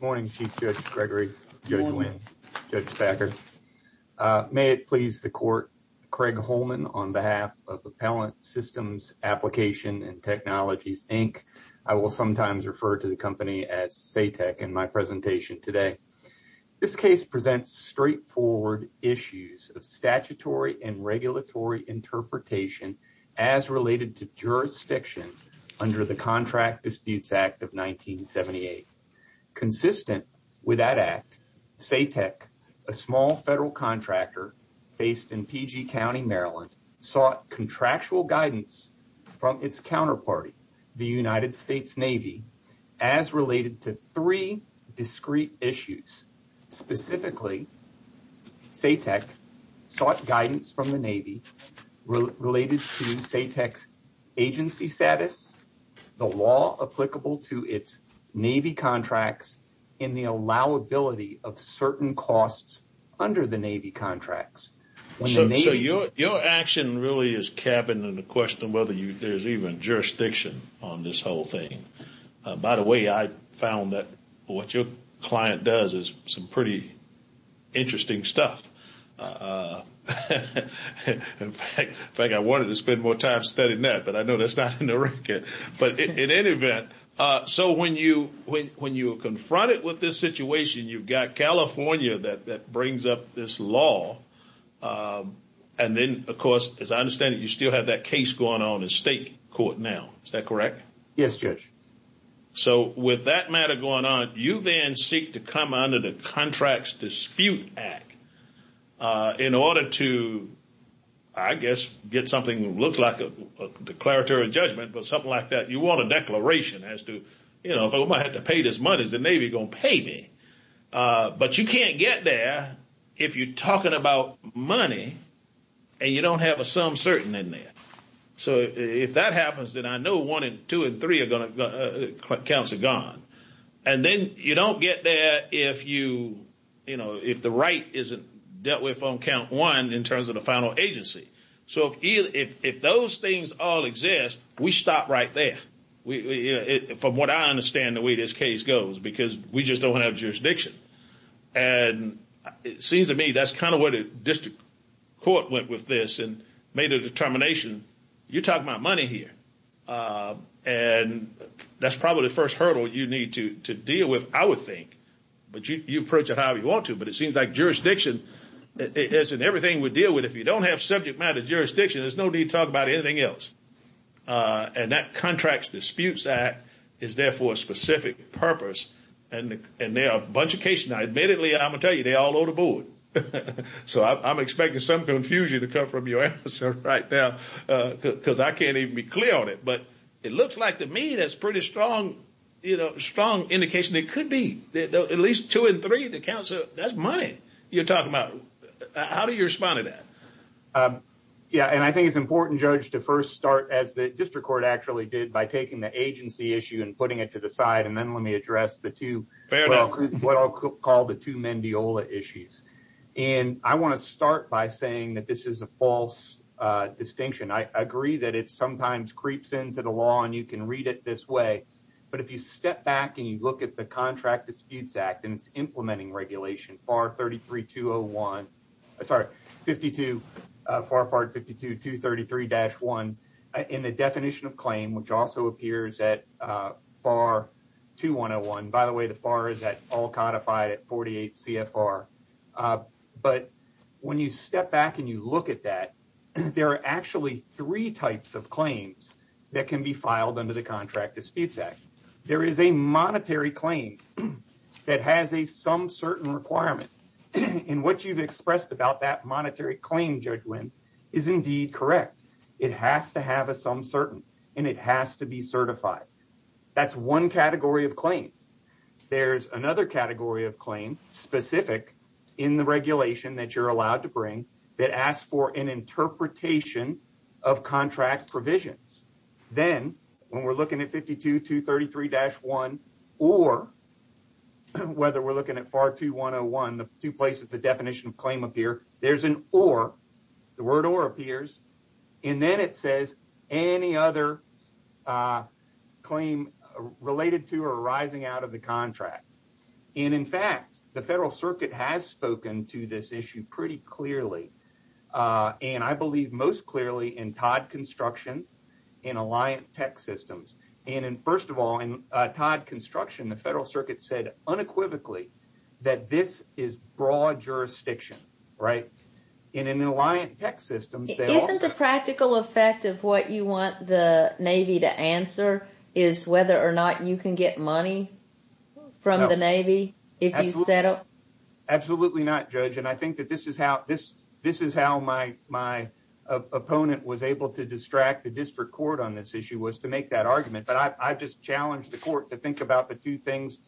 Morning Chief Judge Gregory, Judge Wynn, Judge Thacker. May it please the Court, Craig Holman on behalf of Appellant Systems Application & Technologies, Inc. I will sometimes refer to the company as SATEC in my presentation today. This case presents straightforward issues of statutory and regulatory interpretation as related to jurisdiction under the Contract Disputes Act of 1978. Consistent with that Act, SATEC, a small federal contractor based in PG County, Maryland, sought contractual guidance from its counterparty, the United States Navy, as related to three discrete issues. Specifically, SATEC sought guidance from the Navy related to SATEC's agency status, the law applicable to its Navy contracts, and the allowability of certain costs under the Navy contracts. So your action really is capping the question of whether there's even jurisdiction on this whole thing. By the way, I found that what your client does is some pretty interesting stuff. In fact, I wanted to spend more time studying that, but I know that's not in the record. But in any event, so when you are confronted with this situation, you've got California that brings up this law. And then, of course, as I understand it, you still have that case going on in state court now. Is that correct? Yes, Judge. So with that matter going on, you then seek to come under the Contracts Dispute Act in order to, I guess, get something that looks like a declaratory judgment or something like that. You want a declaration as to, you know, if I'm going to have to pay this money, is the Navy going to pay me? But you can't get there if you're talking about money and you don't have a sum certain in there. So if that happens, then I know one and two and three counts are gone. And then you don't get there if the right isn't dealt with on count one in terms of the final agency. So if those things all exist, we stop right there, from what I understand the way this case goes, because we just don't have jurisdiction. And it seems to me that's kind of where the district court went with this and made a determination. You're talking about money here. And that's probably the first hurdle you need to deal with, I would think. But you approach it however you want to. But it seems like jurisdiction is in everything we deal with. If you don't have subject matter jurisdiction, there's no need to talk about anything else. And that Contracts Disputes Act is there for a specific purpose. And there are a bunch of cases. Now, admittedly, I'm going to tell you, they're all over the board. So I'm expecting some confusion to come from your answer right now, because I can't even be clear on it. But it looks like to me that's a pretty strong indication. It could be at least two and three. That's money you're talking about. How do you respond to that? Yeah, and I think it's important, Judge, to first start, as the district court actually did, by taking the agency issue and putting it to the side. And then let me address the two, what I'll call the two Mendiola issues. And I want to start by saying that this is a false distinction. I agree that it sometimes creeps into the law, and you can read it this way. But if you step back and you look at the Contracts Disputes Act and its implementing regulation, FAR 33-201. Sorry, 52, FAR Part 52, 233-1, in the definition of claim, which also appears at FAR 2101. By the way, the FAR is at all codified at 48 CFR. But when you step back and you look at that, there are actually three types of claims that can be filed under the Contract Disputes Act. There is a monetary claim that has a some certain requirement. And what you've expressed about that monetary claim, Judge Winn, is indeed correct. It has to have a some certain, and it has to be certified. That's one category of claim. There's another category of claim, specific in the regulation that you're allowed to bring, that asks for an interpretation of contract provisions. Then, when we're looking at 52, 233-1, or whether we're looking at FAR 2101, the two places the definition of claim appear, there's an or. The word or appears. And then it says any other claim related to or arising out of the contract. And in fact, the Federal Circuit has spoken to this issue pretty clearly. And I believe most clearly in Todd Construction and Alliant Tech Systems. And first of all, in Todd Construction, the Federal Circuit said unequivocally that this is broad jurisdiction. Right? And in Alliant Tech Systems, they also- Isn't the practical effect of what you want the Navy to answer is whether or not you can get money from the Navy if you settle? Absolutely not, Judge. And I think that this is how my opponent was able to distract the district court on this issue, was to make that argument. But I've just challenged the court to think about the two things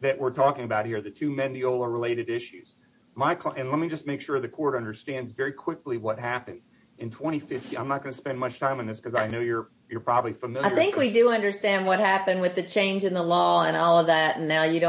that we're talking about here, the two Mendiola-related issues. And let me just make sure the court understands very quickly what happened in 2015. I'm not going to spend much time on this because I know you're probably familiar. I think we do understand what happened with the change in the law and all of that. And now you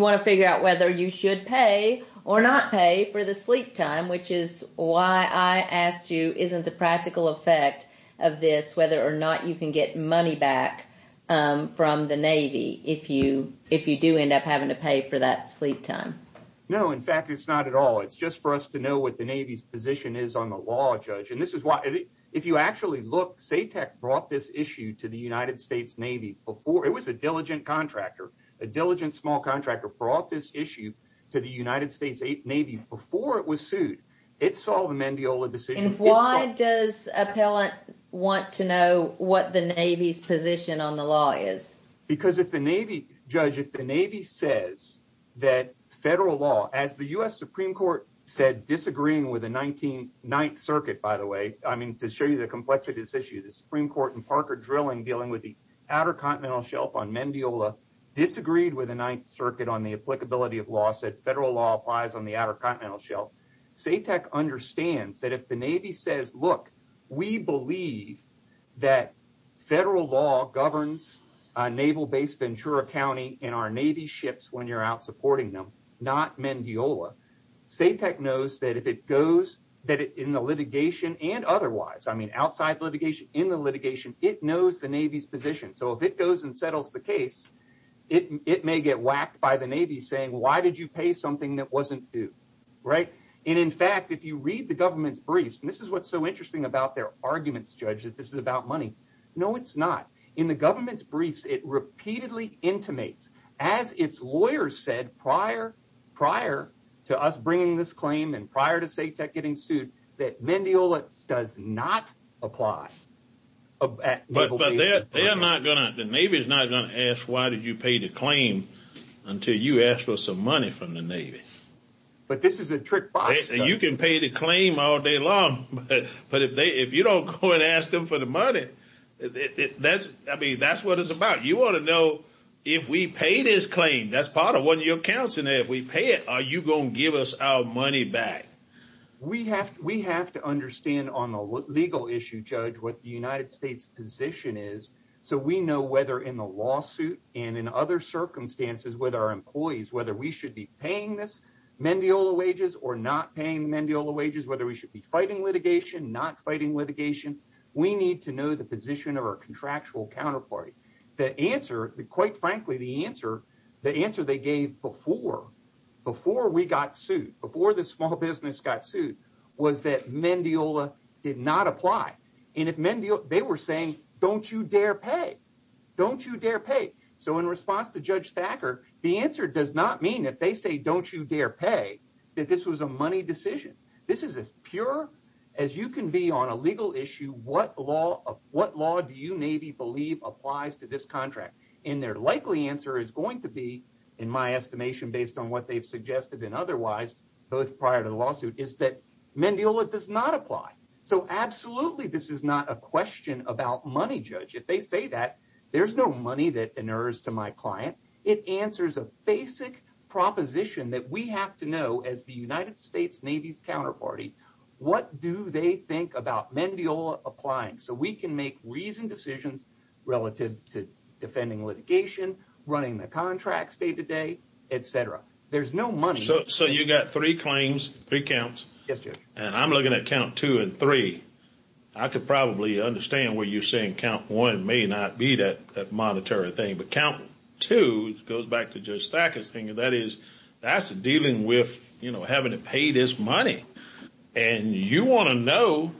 want to figure out whether you should pay or not pay for the sleep time, which is why I asked you, isn't the practical effect of this whether or not you can get money back from the Navy if you do end up having to pay for that sleep time? No, in fact, it's not at all. It's just for us to know what the Navy's position is on the law, Judge. If you actually look, SATEC brought this issue to the United States Navy before. It was a diligent contractor. A diligent small contractor brought this issue to the United States Navy before it was sued. It saw the Mendiola decision. And why does an appellant want to know what the Navy's position on the law is? Because if the Navy, Judge, if the Navy says that federal law, as the U.S. Supreme Court said, disagreeing with the Ninth Circuit, by the way, I mean, to show you the complexity of this issue, the Supreme Court and Parker Drilling dealing with the outer continental shelf on Mendiola disagreed with the Ninth Circuit on the applicability of law, said federal law applies on the outer continental shelf. SATEC understands that if the Navy says, look, we believe that federal law governs Naval Base Ventura County and our Navy ships when you're out supporting them, not Mendiola. SATEC knows that if it goes in the litigation and otherwise, I mean, outside litigation, in the litigation, it knows the Navy's position. So if it goes and settles the case, it may get whacked by the Navy saying, why did you pay something that wasn't due? Right. And in fact, if you read the government's briefs, and this is what's so interesting about their arguments, Judge, that this is about money. No, it's not. In the government's briefs, it repeatedly intimates, as its lawyers said prior, prior to us bringing this claim and prior to SATEC getting sued, that Mendiola does not apply. But they're not going to, the Navy is not going to ask, why did you pay the claim until you asked for some money from the Navy? But this is a trick box. You can pay the claim all day long. But if they if you don't go and ask them for the money, that's I mean, that's what it's about. You want to know if we pay this claim, that's part of what your counsel, if we pay it, are you going to give us our money back? We have we have to understand on the legal issue, Judge, what the United States position is. So we know whether in the lawsuit and in other circumstances with our employees, whether we should be paying this Mendiola wages or not paying Mendiola wages, whether we should be fighting litigation, not fighting litigation. We need to know the position of our contractual counterparty. The answer, quite frankly, the answer, the answer they gave before, before we got sued, before the small business got sued, was that Mendiola did not apply. And if Mendiola they were saying, don't you dare pay, don't you dare pay. So in response to Judge Thacker, the answer does not mean that they say, don't you dare pay that this was a money decision. This is as pure as you can be on a legal issue. What law of what law do you Navy believe applies to this contract? And their likely answer is going to be, in my estimation, based on what they've suggested and otherwise, both prior to the lawsuit, is that Mendiola does not apply. So absolutely, this is not a question about money. Judge, if they say that, there's no money that inures to my client. It answers a basic proposition that we have to know as the United States Navy's counterparty. What do they think about Mendiola applying so we can make reasoned decisions relative to defending litigation, running the contracts day to day, etc. There's no money. So you've got three claims, three counts. Yes, Judge. And I'm looking at count two and three. I could probably understand where you're saying count one may not be that monetary thing. But count two goes back to Judge Thacker's thing. And that is, that's dealing with, you know, having to pay this money. And you want to know,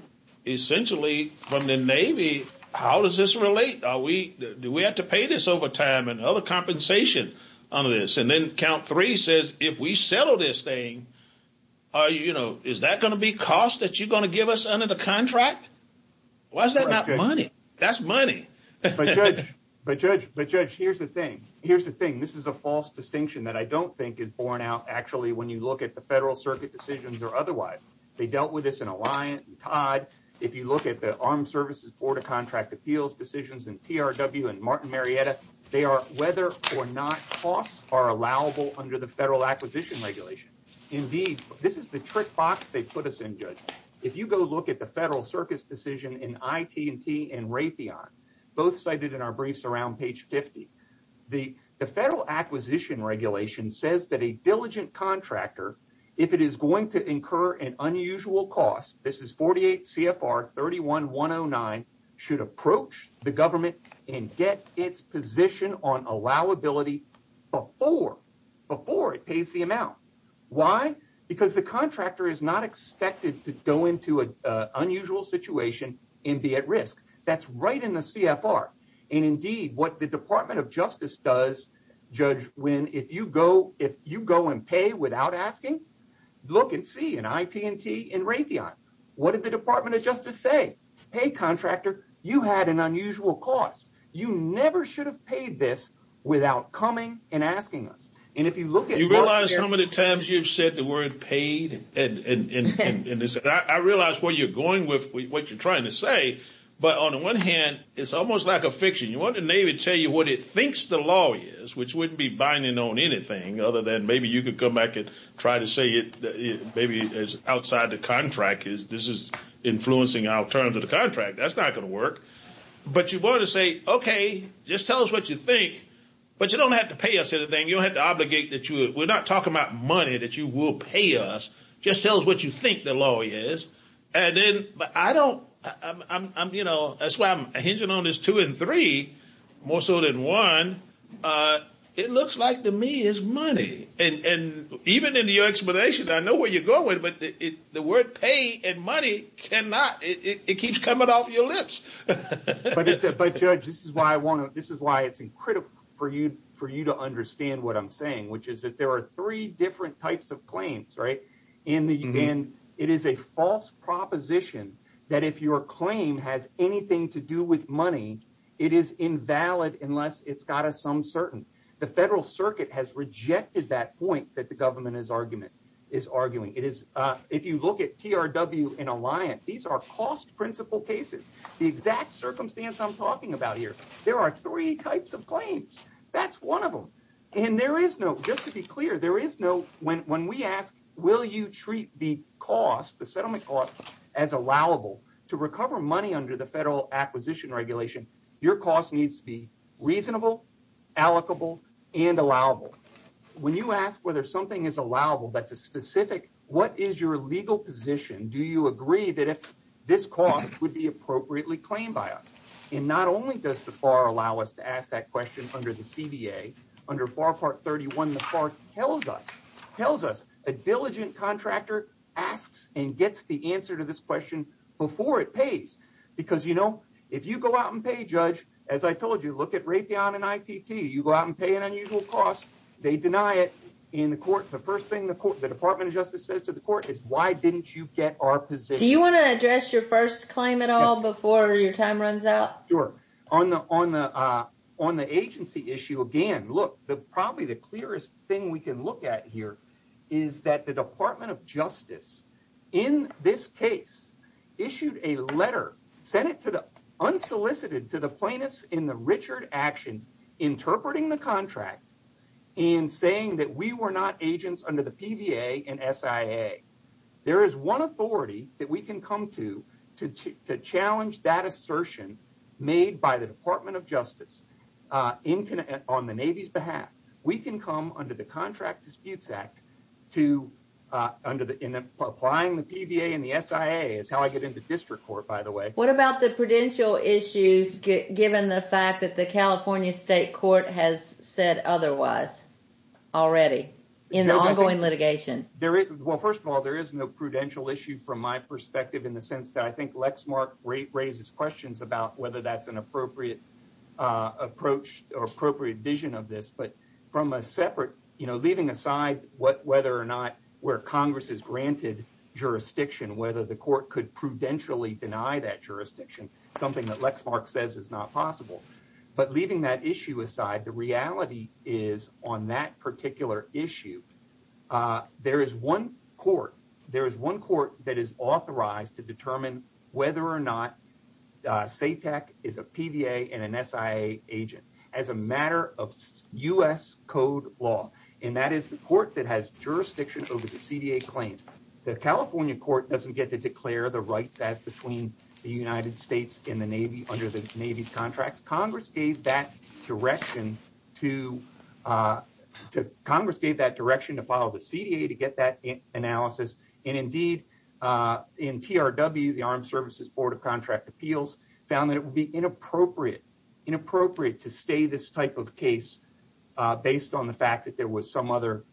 essentially, from the Navy, how does this relate? Do we have to pay this overtime and other compensation under this? And then count three says, if we settle this thing, is that going to be cost that you're going to give us under the contract? Why is that not money? That's money. But, Judge, here's the thing. Here's the thing. This is a false distinction that I don't think is borne out, actually, when you look at the Federal Circuit decisions or otherwise. They dealt with this in Alliant and Todd. If you look at the Armed Services Board of Contract Appeals decisions and TRW and Martin Marietta, they are whether or not costs are allowable under the Federal Acquisition Regulation. Indeed, this is the trick box they put us in, Judge. If you go look at the Federal Circuit's decision in IT&T and Raytheon, both cited in our briefs around page 50, the Federal Acquisition Regulation says that a diligent contractor, if it is going to incur an unusual cost, this is 48 CFR 31-109, should approach the government and get its position on allowability before it pays the amount. Why? Because the contractor is not expected to go into an unusual situation and be at risk. That's right in the CFR. Indeed, what the Department of Justice does, Judge Wynn, if you go and pay without asking, look and see in IT&T and Raytheon. What did the Department of Justice say? Hey, contractor, you had an unusual cost. You never should have paid this without coming and asking us. And if you look at- You realize how many times you've said the word paid? I realize where you're going with what you're trying to say, but on the one hand, it's almost like a fiction. You want the Navy to tell you what it thinks the law is, which wouldn't be binding on anything other than maybe you could come back and try to say maybe it's outside the contract. This is influencing our terms of the contract. That's not going to work. But you want to say, okay, just tell us what you think, but you don't have to pay us anything. You don't have to obligate that you- We're not talking about money that you will pay us. Just tell us what you think the law is. But I don't- That's why I'm hinging on this two and three more so than one. It looks like to me it's money. And even in your explanation, I know where you're going with it, but the word pay and money cannot- It keeps coming off your lips. But, Judge, this is why it's critical for you to understand what I'm saying, which is that there are three different types of claims. It is a false proposition that if your claim has anything to do with money, it is invalid unless it's got a sum certain. The Federal Circuit has rejected that point that the government is arguing. If you look at TRW and Alliant, these are cost principle cases. The exact circumstance I'm talking about here, there are three types of claims. That's one of them. And there is no- Just to be clear, there is no- When we ask, will you treat the cost, the settlement cost, as allowable to recover money under the Federal Acquisition Regulation, your cost needs to be reasonable, allocable, and allowable. When you ask whether something is allowable that's a specific- Do you agree that if this cost would be appropriately claimed by us? And not only does the FAR allow us to ask that question under the CBA, under FAR Part 31, the FAR tells us, tells us a diligent contractor asks and gets the answer to this question before it pays. Because, you know, if you go out and pay, Judge, as I told you, look at Raytheon and ITT. You go out and pay an unusual cost, they deny it in the court. The first thing the Department of Justice says to the court is, why didn't you get our position? Do you want to address your first claim at all before your time runs out? Sure. On the agency issue again, look, probably the clearest thing we can look at here is that the Department of Justice, in this case, issued a letter, unsolicited, to the plaintiffs in the Richard action, interpreting the contract and saying that we were not agents under the PVA and SIA. There is one authority that we can come to to challenge that assertion made by the Department of Justice on the Navy's behalf. We can come under the Contract Disputes Act to- applying the PVA and the SIA is how I get into district court, by the way. What about the prudential issues, given the fact that the California State Court has said otherwise already in the ongoing litigation? Well, first of all, there is no prudential issue from my perspective in the sense that I think Lexmark raises questions about whether that's an appropriate approach or appropriate vision of this. But from a separate, you know, leaving aside whether or not where Congress has granted jurisdiction, whether the court could prudentially deny that jurisdiction, something that Lexmark says is not possible. But leaving that issue aside, the reality is on that particular issue, there is one court. There is one court that is authorized to determine whether or not SATAC is a PVA and an SIA agent as a matter of U.S. doesn't get to declare the rights as between the United States and the Navy under the Navy's contracts. Congress gave that direction to Congress, gave that direction to follow the CDA to get that analysis. And indeed, in TRW, the Armed Services Board of Contract Appeals found that it would be inappropriate, inappropriate to stay this type of case based on the fact that there was some other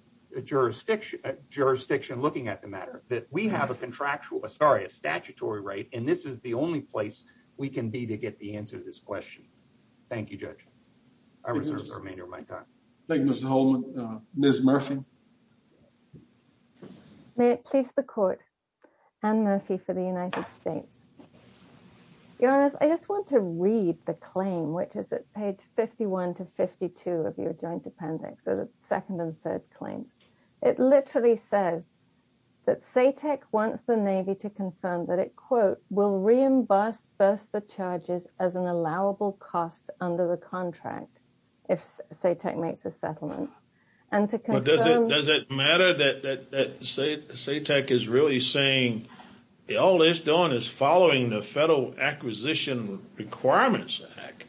jurisdiction, jurisdiction looking at the matter, that we have a contractual sorry, a statutory right. And this is the only place we can be to get the answer to this question. Thank you, Judge. I reserve the remainder of my time. Thank you, Mr. Holman. Ms. Murphy. May it please the court. Anne Murphy for the United States. Your Honor, I just want to read the claim, which is at page 51 to 52 of your joint appendix, the second and third claims. It literally says that SATAC wants the Navy to confirm that it, quote, will reimburse first the charges as an allowable cost under the contract if SATAC makes a settlement. Does it matter that SATAC is really saying all it's doing is following the Federal Acquisition Requirements Act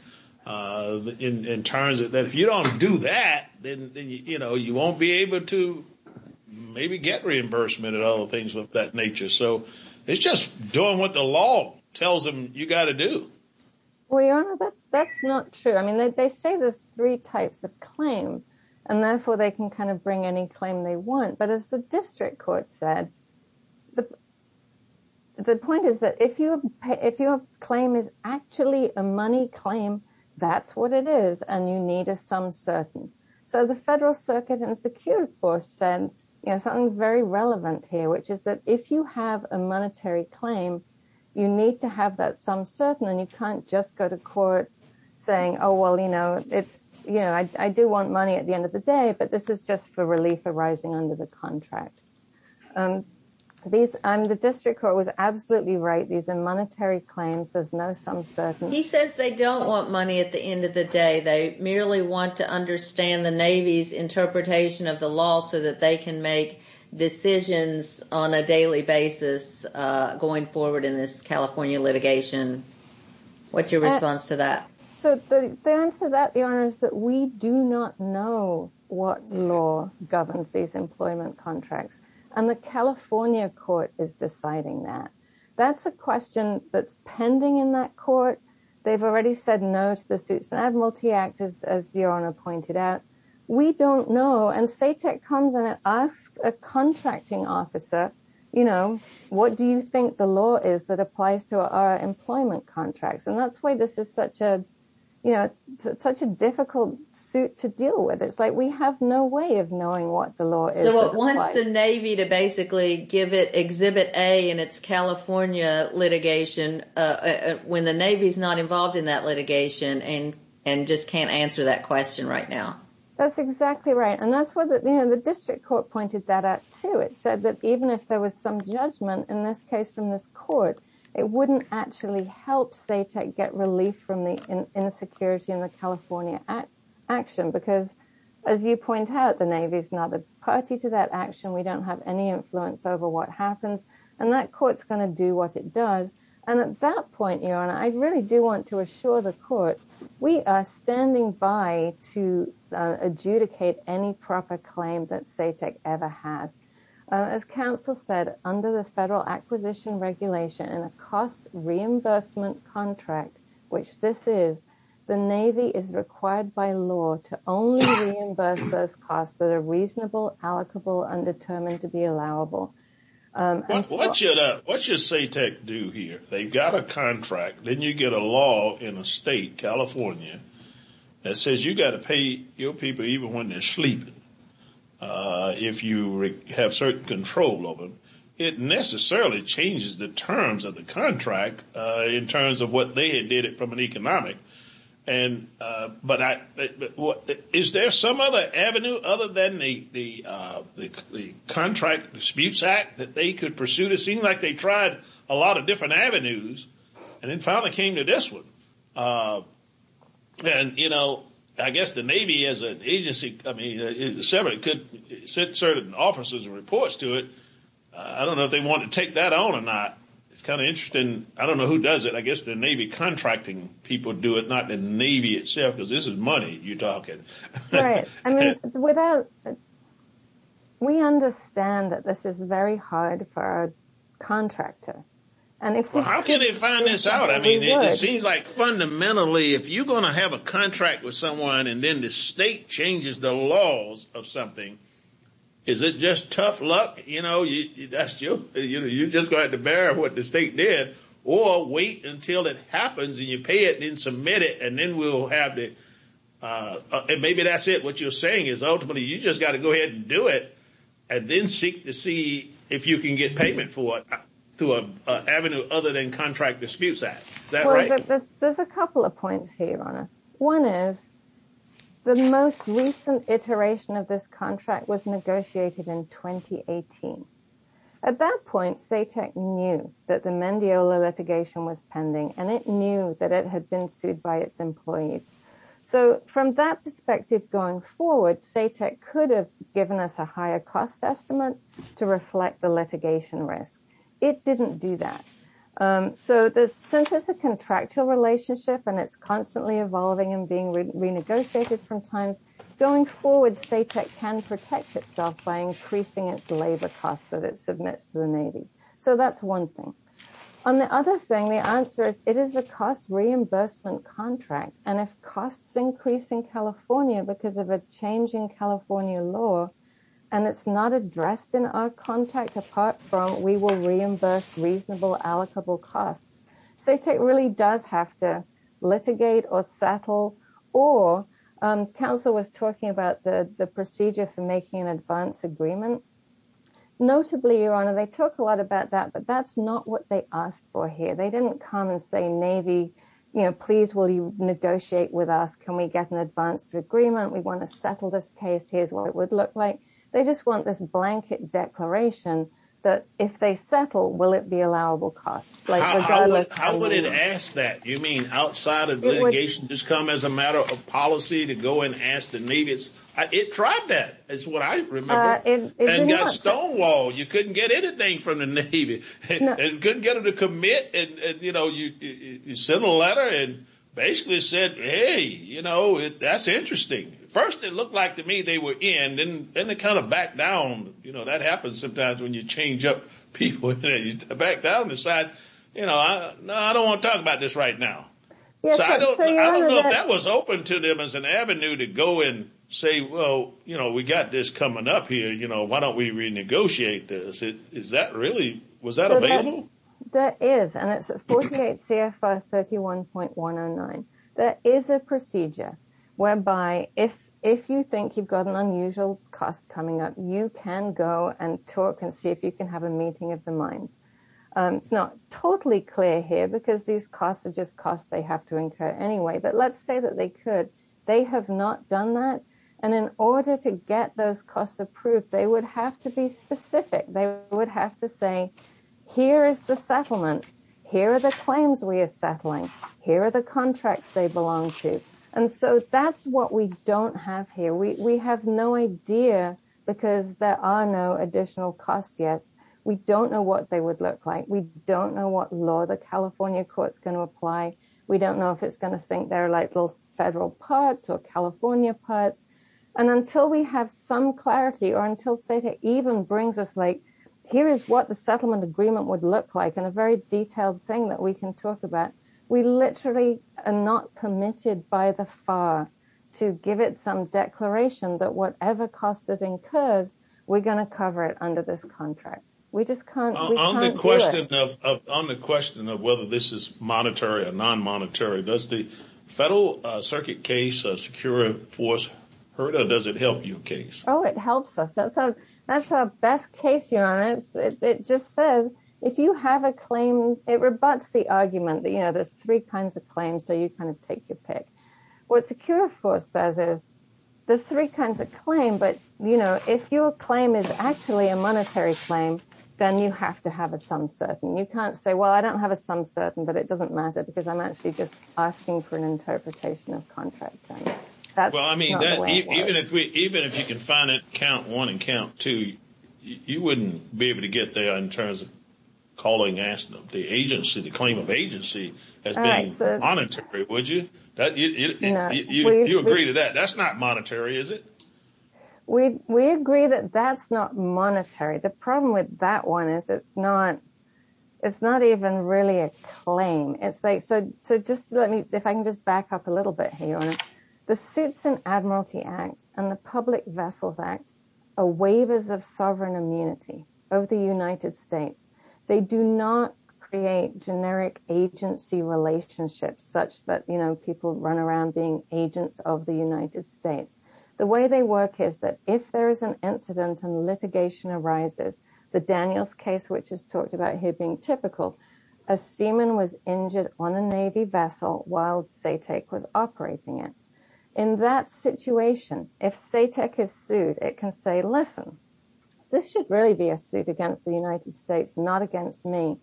in terms of that? If you don't do that, then, you know, you won't be able to maybe get reimbursement and all the things of that nature. So it's just doing what the law tells them you got to do. Well, your Honor, that's that's not true. I mean, they say there's three types of claim and therefore they can kind of bring any claim they want. But as the district court said, the point is that if you if your claim is actually a money claim, that's what it is. And you need a sum certain. So the Federal Circuit and Security Force said something very relevant here, which is that if you have a monetary claim, you need to have that sum certain. And you can't just go to court saying, oh, well, you know, it's you know, I do want money at the end of the day. But this is just for relief arising under the contract. These and the district court was absolutely right. These are monetary claims. There's no sum certain. He says they don't want money at the end of the day. They merely want to understand the Navy's interpretation of the law so that they can make decisions on a daily basis going forward in this California litigation. What's your response to that? So the answer to that is that we do not know what law governs these employment contracts. And the California court is deciding that. That's a question that's pending in that court. They've already said no to the suits and Admiralty Act, as your Honor pointed out. We don't know. And SATEC comes and asks a contracting officer, you know, what do you think the law is that applies to our employment contracts? And that's why this is such a, you know, such a difficult suit to deal with. It's like we have no way of knowing what the law is. So it wants the Navy to basically give it Exhibit A in its California litigation when the Navy's not involved in that litigation and just can't answer that question right now. That's exactly right. And that's what the district court pointed that out, too. It said that even if there was some judgment in this case from this court, it wouldn't actually help SATEC get relief from the insecurity in the California action. Because as you point out, the Navy's not a party to that action. We don't have any influence over what happens. And that court's going to do what it does. And at that point, your Honor, I really do want to assure the court we are standing by to adjudicate any proper claim that SATEC ever has. As counsel said, under the federal acquisition regulation and a cost reimbursement contract, which this is, the Navy is required by law to only reimburse those costs that are reasonable, allocable, and determined to be allowable. What should SATEC do here? They've got a contract. Then you get a law in a state, California, that says you've got to pay your people even when they're sleeping if you have certain control over them. It necessarily changes the terms of the contract in terms of what they had did from an economic. But is there some other avenue other than the Contract Disputes Act that they could pursue? It seemed like they tried a lot of different avenues and then finally came to this one. I guess the Navy as an agency could send certain officers and reports to it. I don't know if they want to take that on or not. It's kind of interesting. I don't know who does it. I guess the Navy contracting people do it, not the Navy itself, because this is money you're talking. We understand that this is very hard for a contractor. How can they find this out? It seems like fundamentally if you're going to have a contract with someone and then the state changes the laws of something, is it just tough luck? That's true. You just have to bear what the state did or wait until it happens and you pay it and submit it and then we'll have it. Maybe that's it. What you're saying is ultimately you just got to go ahead and do it and then seek to see if you can get payment to an avenue other than Contract Disputes Act. There's a couple of points here, Your Honor. One is the most recent iteration of this contract was negotiated in 2018. At that point, SATEC knew that the Mendiola litigation was pending and it knew that it had been sued by its employees. From that perspective going forward, SATEC could have given us a higher cost estimate to reflect the litigation risk. It didn't do that. Since it's a contractual relationship and it's constantly evolving and being renegotiated from time, going forward SATEC can protect itself by increasing its labor costs that it submits to the Navy. So that's one thing. On the other thing, the answer is it is a cost reimbursement contract and if costs increase in California because of a change in California law and it's not addressed in our contract apart from we will reimburse reasonable allocable costs, SATEC really does have to litigate or settle. Or Council was talking about the procedure for making an advance agreement. Notably, Your Honor, they talk a lot about that, but that's not what they asked for here. They didn't come and say Navy, please will you negotiate with us? Can we get an advance agreement? We want to settle this case. Here's what it would look like. They just want this blanket declaration that if they settle, will it be allowable costs? How would it ask that? You mean outside of litigation just come as a matter of policy to go and ask the Navy? It tried that is what I remember. And got stonewalled. You couldn't get anything from the Navy. Couldn't get them to commit. You send a letter and basically said, hey, that's interesting. First, it looked like to me they were in. Then they kind of back down. That happens sometimes when you change up people. You back down and decide, no, I don't want to talk about this right now. I don't know if that was open to them as an avenue to go and say, well, we got this coming up here. Why don't we renegotiate this? Was that available? There is. And it's a 48 CFR 31.109. There is a procedure whereby if you think you've got an unusual cost coming up, you can go and talk and see if you can have a meeting of the minds. It's not totally clear here because these costs are just costs they have to incur anyway. But let's say that they could. They have not done that. And in order to get those costs approved, they would have to be specific. They would have to say, here is the settlement. Here are the claims we are settling. Here are the contracts they belong to. And so that's what we don't have here. We have no idea because there are no additional costs yet. We don't know what they would look like. We don't know what law the California court's going to apply. We don't know if it's going to think they're like little federal parts or California parts. And until we have some clarity or until SATA even brings us like, here is what the settlement agreement would look like and a very detailed thing that we can talk about, we literally are not permitted by the FAR to give it some declaration that whatever costs it incurs, we're going to cover it under this contract. We just can't do it. On the question of whether this is monetary or non-monetary, does the Federal Circuit case or Secure Force hurt or does it help you case? Oh, it helps us. That's our best case, Your Honor. It just says, if you have a claim, it rebuts the argument that there's three kinds of claims, so you kind of take your pick. What Secure Force says is there's three kinds of claim, but if your claim is actually a monetary claim, then you have to have a sum certain. You can't say, well, I don't have a sum certain, but it doesn't matter because I'm actually just asking for an interpretation of contracting. Well, I mean, even if you can find it, count one and count two, you wouldn't be able to get there in terms of calling the agency, the claim of agency as being monetary, would you? You agree to that. That's not monetary, is it? We agree that that's not monetary. The problem with that one is it's not even really a claim. If I can just back up a little bit here, Your Honor, the Suits and Admiralty Act and the Public Vessels Act are waivers of sovereign immunity of the United States. They do not create generic agency relationships such that people run around being agents of the United States. The way they work is that if there is an incident and litigation arises, the Daniels case, which is talked about here being typical, a seaman was injured on a Navy vessel while SATEC was operating it. In that situation, if SATEC is sued, it can say, listen, this should really be a suit against the United States, not against me.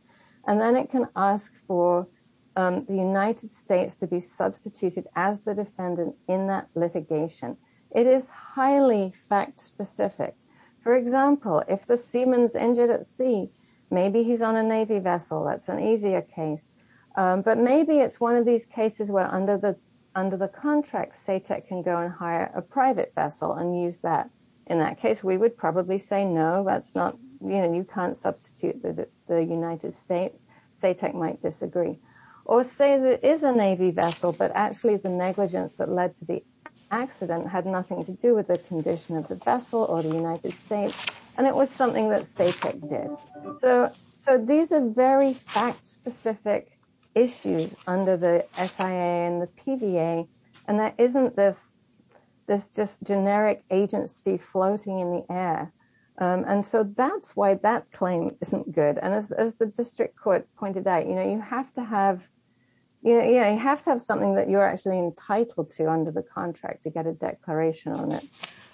And then it can ask for the United States to be substituted as the defendant in that litigation. It is highly fact specific. For example, if the seaman's injured at sea, maybe he's on a Navy vessel. That's an easier case. But maybe it's one of these cases where under the contract, SATEC can go and hire a private vessel and use that. In that case, we would probably say, no, you can't substitute the United States. SATEC might disagree. Or say there is a Navy vessel, but actually the negligence that led to the accident had nothing to do with the condition of the vessel or the United States. And it was something that SATEC did. So these are very fact specific issues under the SIA and the PVA. And there isn't this just generic agency floating in the air. And so that's why that claim isn't good. And as the district court pointed out, you have to have something that you're actually entitled to under the contract to get a declaration on it.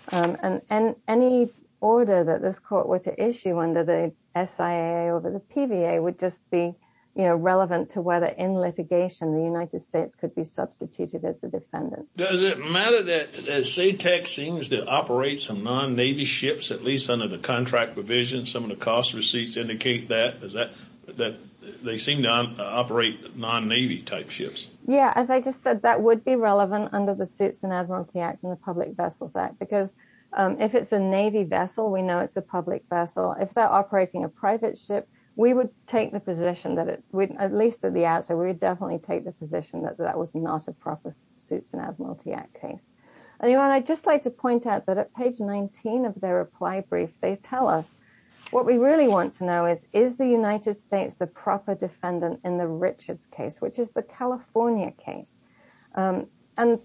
And any order that this court were to issue under the SIA over the PVA would just be relevant to whether in litigation the United States could be substituted as the defendant. Does it matter that SATEC seems to operate some non-Navy ships, at least under the contract provision? Some of the cost receipts indicate that. They seem to operate non-Navy type ships. Yeah, as I just said, that would be relevant under the Suits and Admiralty Act and the Public Vessels Act. Because if it's a Navy vessel, we know it's a public vessel. If they're operating a private ship, we would take the position that it would, at least at the outset, we would definitely take the position that that was not a proper Suits and Admiralty Act case. I just like to point out that at page 19 of their reply brief, they tell us what we really want to know is, is the United States the proper defendant in the Richards case, which is the California case? And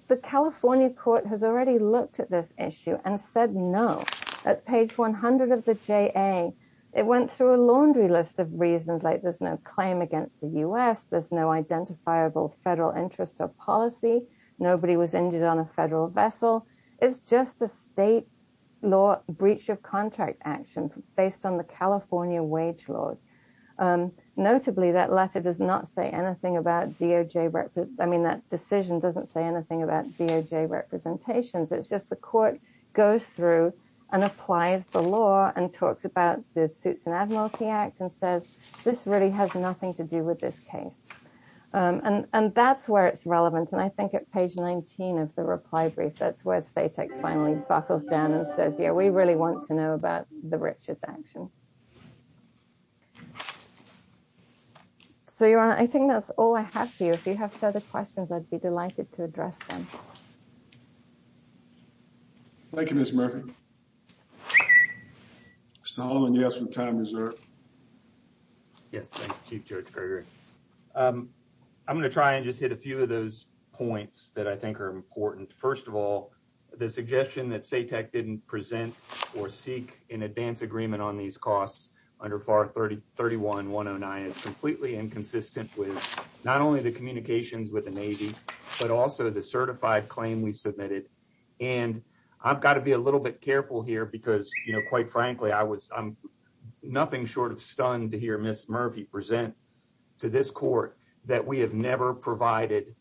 the California court has already looked at this issue and said no. At page 100 of the JA, it went through a laundry list of reasons like there's no claim against the U.S., there's no identifiable federal interest or policy, nobody was injured on a federal vessel. It's just a state law breach of contract action based on the California wage laws. Notably, that letter does not say anything about DOJ. I mean, that decision doesn't say anything about DOJ representations. It's just the court goes through and applies the law and talks about the Suits and Admiralty Act and says, this really has nothing to do with this case. And that's where it's relevant. And I think at page 19 of the reply brief, that's where SATEC finally buckles down and says, yeah, we really want to know about the Richards action. So, I think that's all I have for you. If you have other questions, I'd be delighted to address them. Thank you, Ms. Murphy. Mr. Holloman, you have some time reserved. Yes, thank you, Judge Berger. I'm going to try and just hit a few of those points that I think are important. First of all, the suggestion that SATEC didn't present or seek an advance agreement on these costs under FAR 31-109 is completely inconsistent with not only the communications with the Navy, but also the certified claim we submitted. And I've got to be a little bit careful here because, quite frankly, I'm nothing short of stunned to hear Ms. Murphy present to this court that we have never provided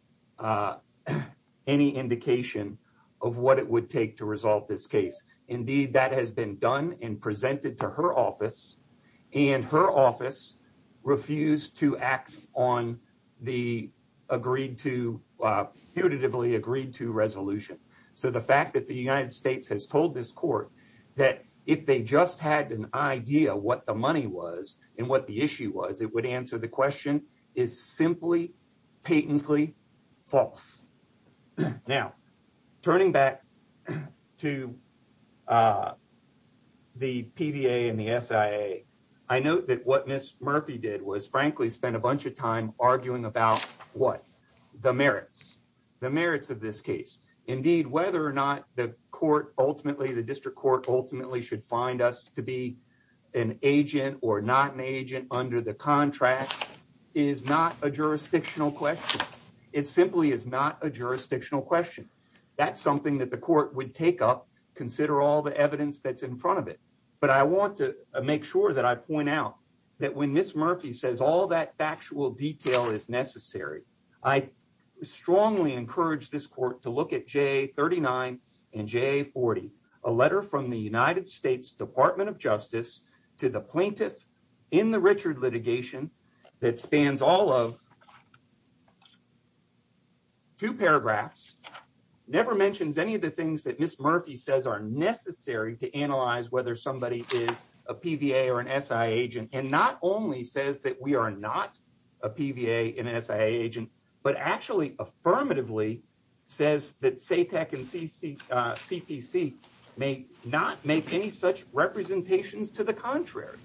any indication of what it would take to resolve this case. Indeed, that has been done and presented to her office, and her office refused to act on the putatively agreed-to resolution. So, the fact that the United States has told this court that if they just had an idea what the money was and what the issue was, it would answer the question is simply patently false. Now, turning back to the PBA and the SIA, I note that what Ms. Murphy did was, frankly, spend a bunch of time arguing about what? The merits. The merits of this case. Indeed, whether or not the court ultimately, the district court ultimately, should find us to be an agent or not an agent under the contracts is not a jurisdictional question. It simply is not a jurisdictional question. That's something that the court would take up, consider all the evidence that's in front of it. But I want to make sure that I point out that when Ms. Murphy says all that factual detail is necessary, I strongly encourage this court to look at J39 and J40, a letter from the United States Department of Justice to the plaintiff in the Richard litigation that spans all of two paragraphs, never mentions any of the things that Ms. Murphy says are necessary to analyze whether somebody is a PBA or an SIA agent, and not only says that we are not a PBA and an SIA agent, but actually affirmatively says that SATEC and CPC may not make any such representations to the contrary.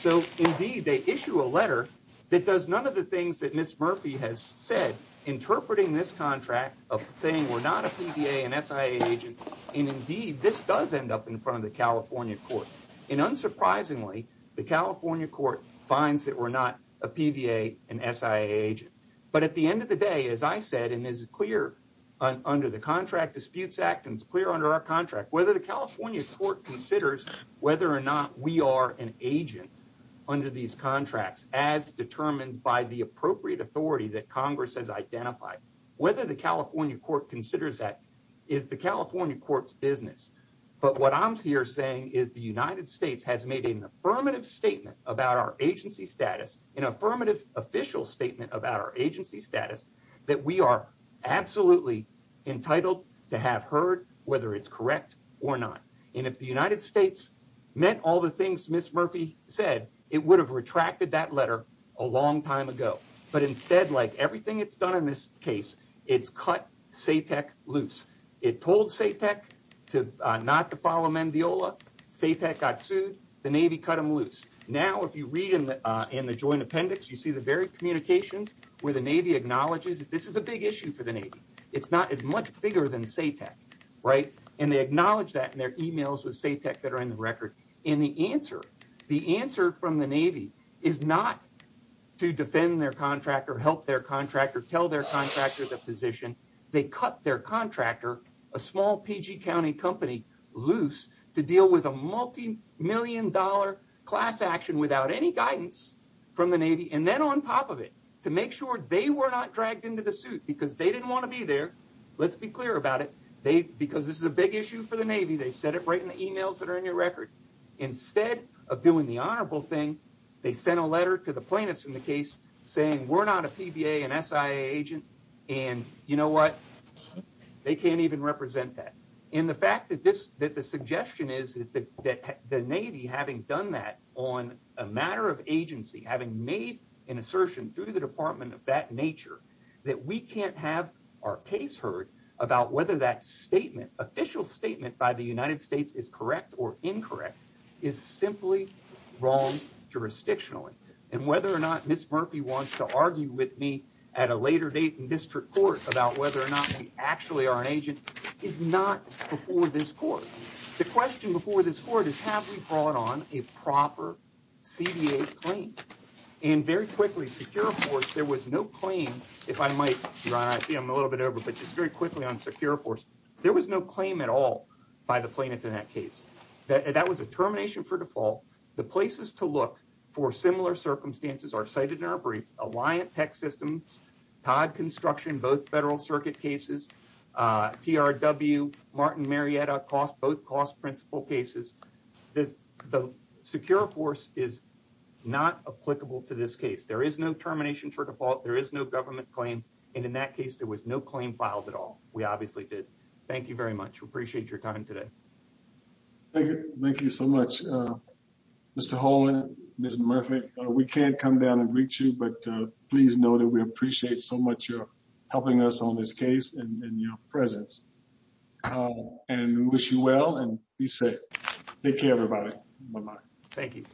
So, indeed, they issue a letter that does none of the things that Ms. Murphy has said, interpreting this contract of saying we're not a PBA and SIA agent. And, indeed, this does end up in front of the California court. And, unsurprisingly, the California court finds that we're not a PBA and SIA agent. But at the end of the day, as I said, and is clear under the Contract Disputes Act and is clear under our contract, whether the California court considers whether or not we are an agent under these contracts as determined by the appropriate authority that Congress has identified, whether the California court considers that is the California court's business. But what I'm here saying is the United States has made an affirmative statement about our agency status, an affirmative official statement about our agency status, that we are absolutely entitled to have heard whether it's correct or not. And if the United States meant all the things Ms. Murphy said, it would have retracted that letter a long time ago. But instead, like everything it's done in this case, it's cut SATEC loose. It told SATEC not to follow Mendiola. SATEC got sued. The Navy cut them loose. Now, if you read in the joint appendix, you see the very communications where the Navy acknowledges that this is a big issue for the Navy. It's not as much bigger than SATEC, right? And they acknowledge that in their emails with SATEC that are in the record. And the answer, the answer from the Navy is not to defend their contractor, help their contractor, tell their contractor the position. They cut their contractor, a small PG County company, loose to deal with a multimillion-dollar class action without any guidance from the Navy. And then on top of it, to make sure they were not dragged into the suit because they didn't want to be there. Let's be clear about it. Because this is a big issue for the Navy, they said it right in the emails that are in your record. Instead of doing the honorable thing, they sent a letter to the plaintiffs in the case saying, we're not a PBA and SIA agent. And you know what? They can't even represent that. And the fact that this, that the suggestion is that the Navy having done that on a matter of agency, having made an assertion through the department of that nature, that we can't have our case heard about whether that statement, official statement by the United States is correct or incorrect. Is simply wrong jurisdictionally. And whether or not Ms. Murphy wants to argue with me at a later date in district court about whether or not we actually are an agent is not before this court. The question before this court is, have we brought on a proper CDA claim? And very quickly, Secure Force, there was no claim. If I might, Ron, I see I'm a little bit over, but just very quickly on Secure Force. There was no claim at all by the plaintiff in that case. That was a termination for default. The places to look for similar circumstances are cited in our brief. Alliant Tech Systems, Todd Construction, both Federal Circuit cases, TRW, Martin Marietta, both cost principal cases. The Secure Force is not applicable to this case. There is no termination for default. There is no government claim. And in that case, there was no claim filed at all. We obviously did. Thank you very much. We appreciate your time today. Thank you. Thank you so much. Mr. Holland, Ms. Murphy, we can't come down and reach you, but please know that we appreciate so much your helping us on this case and your presence. And we wish you well and be safe. Take care, everybody. Bye bye. Thank you.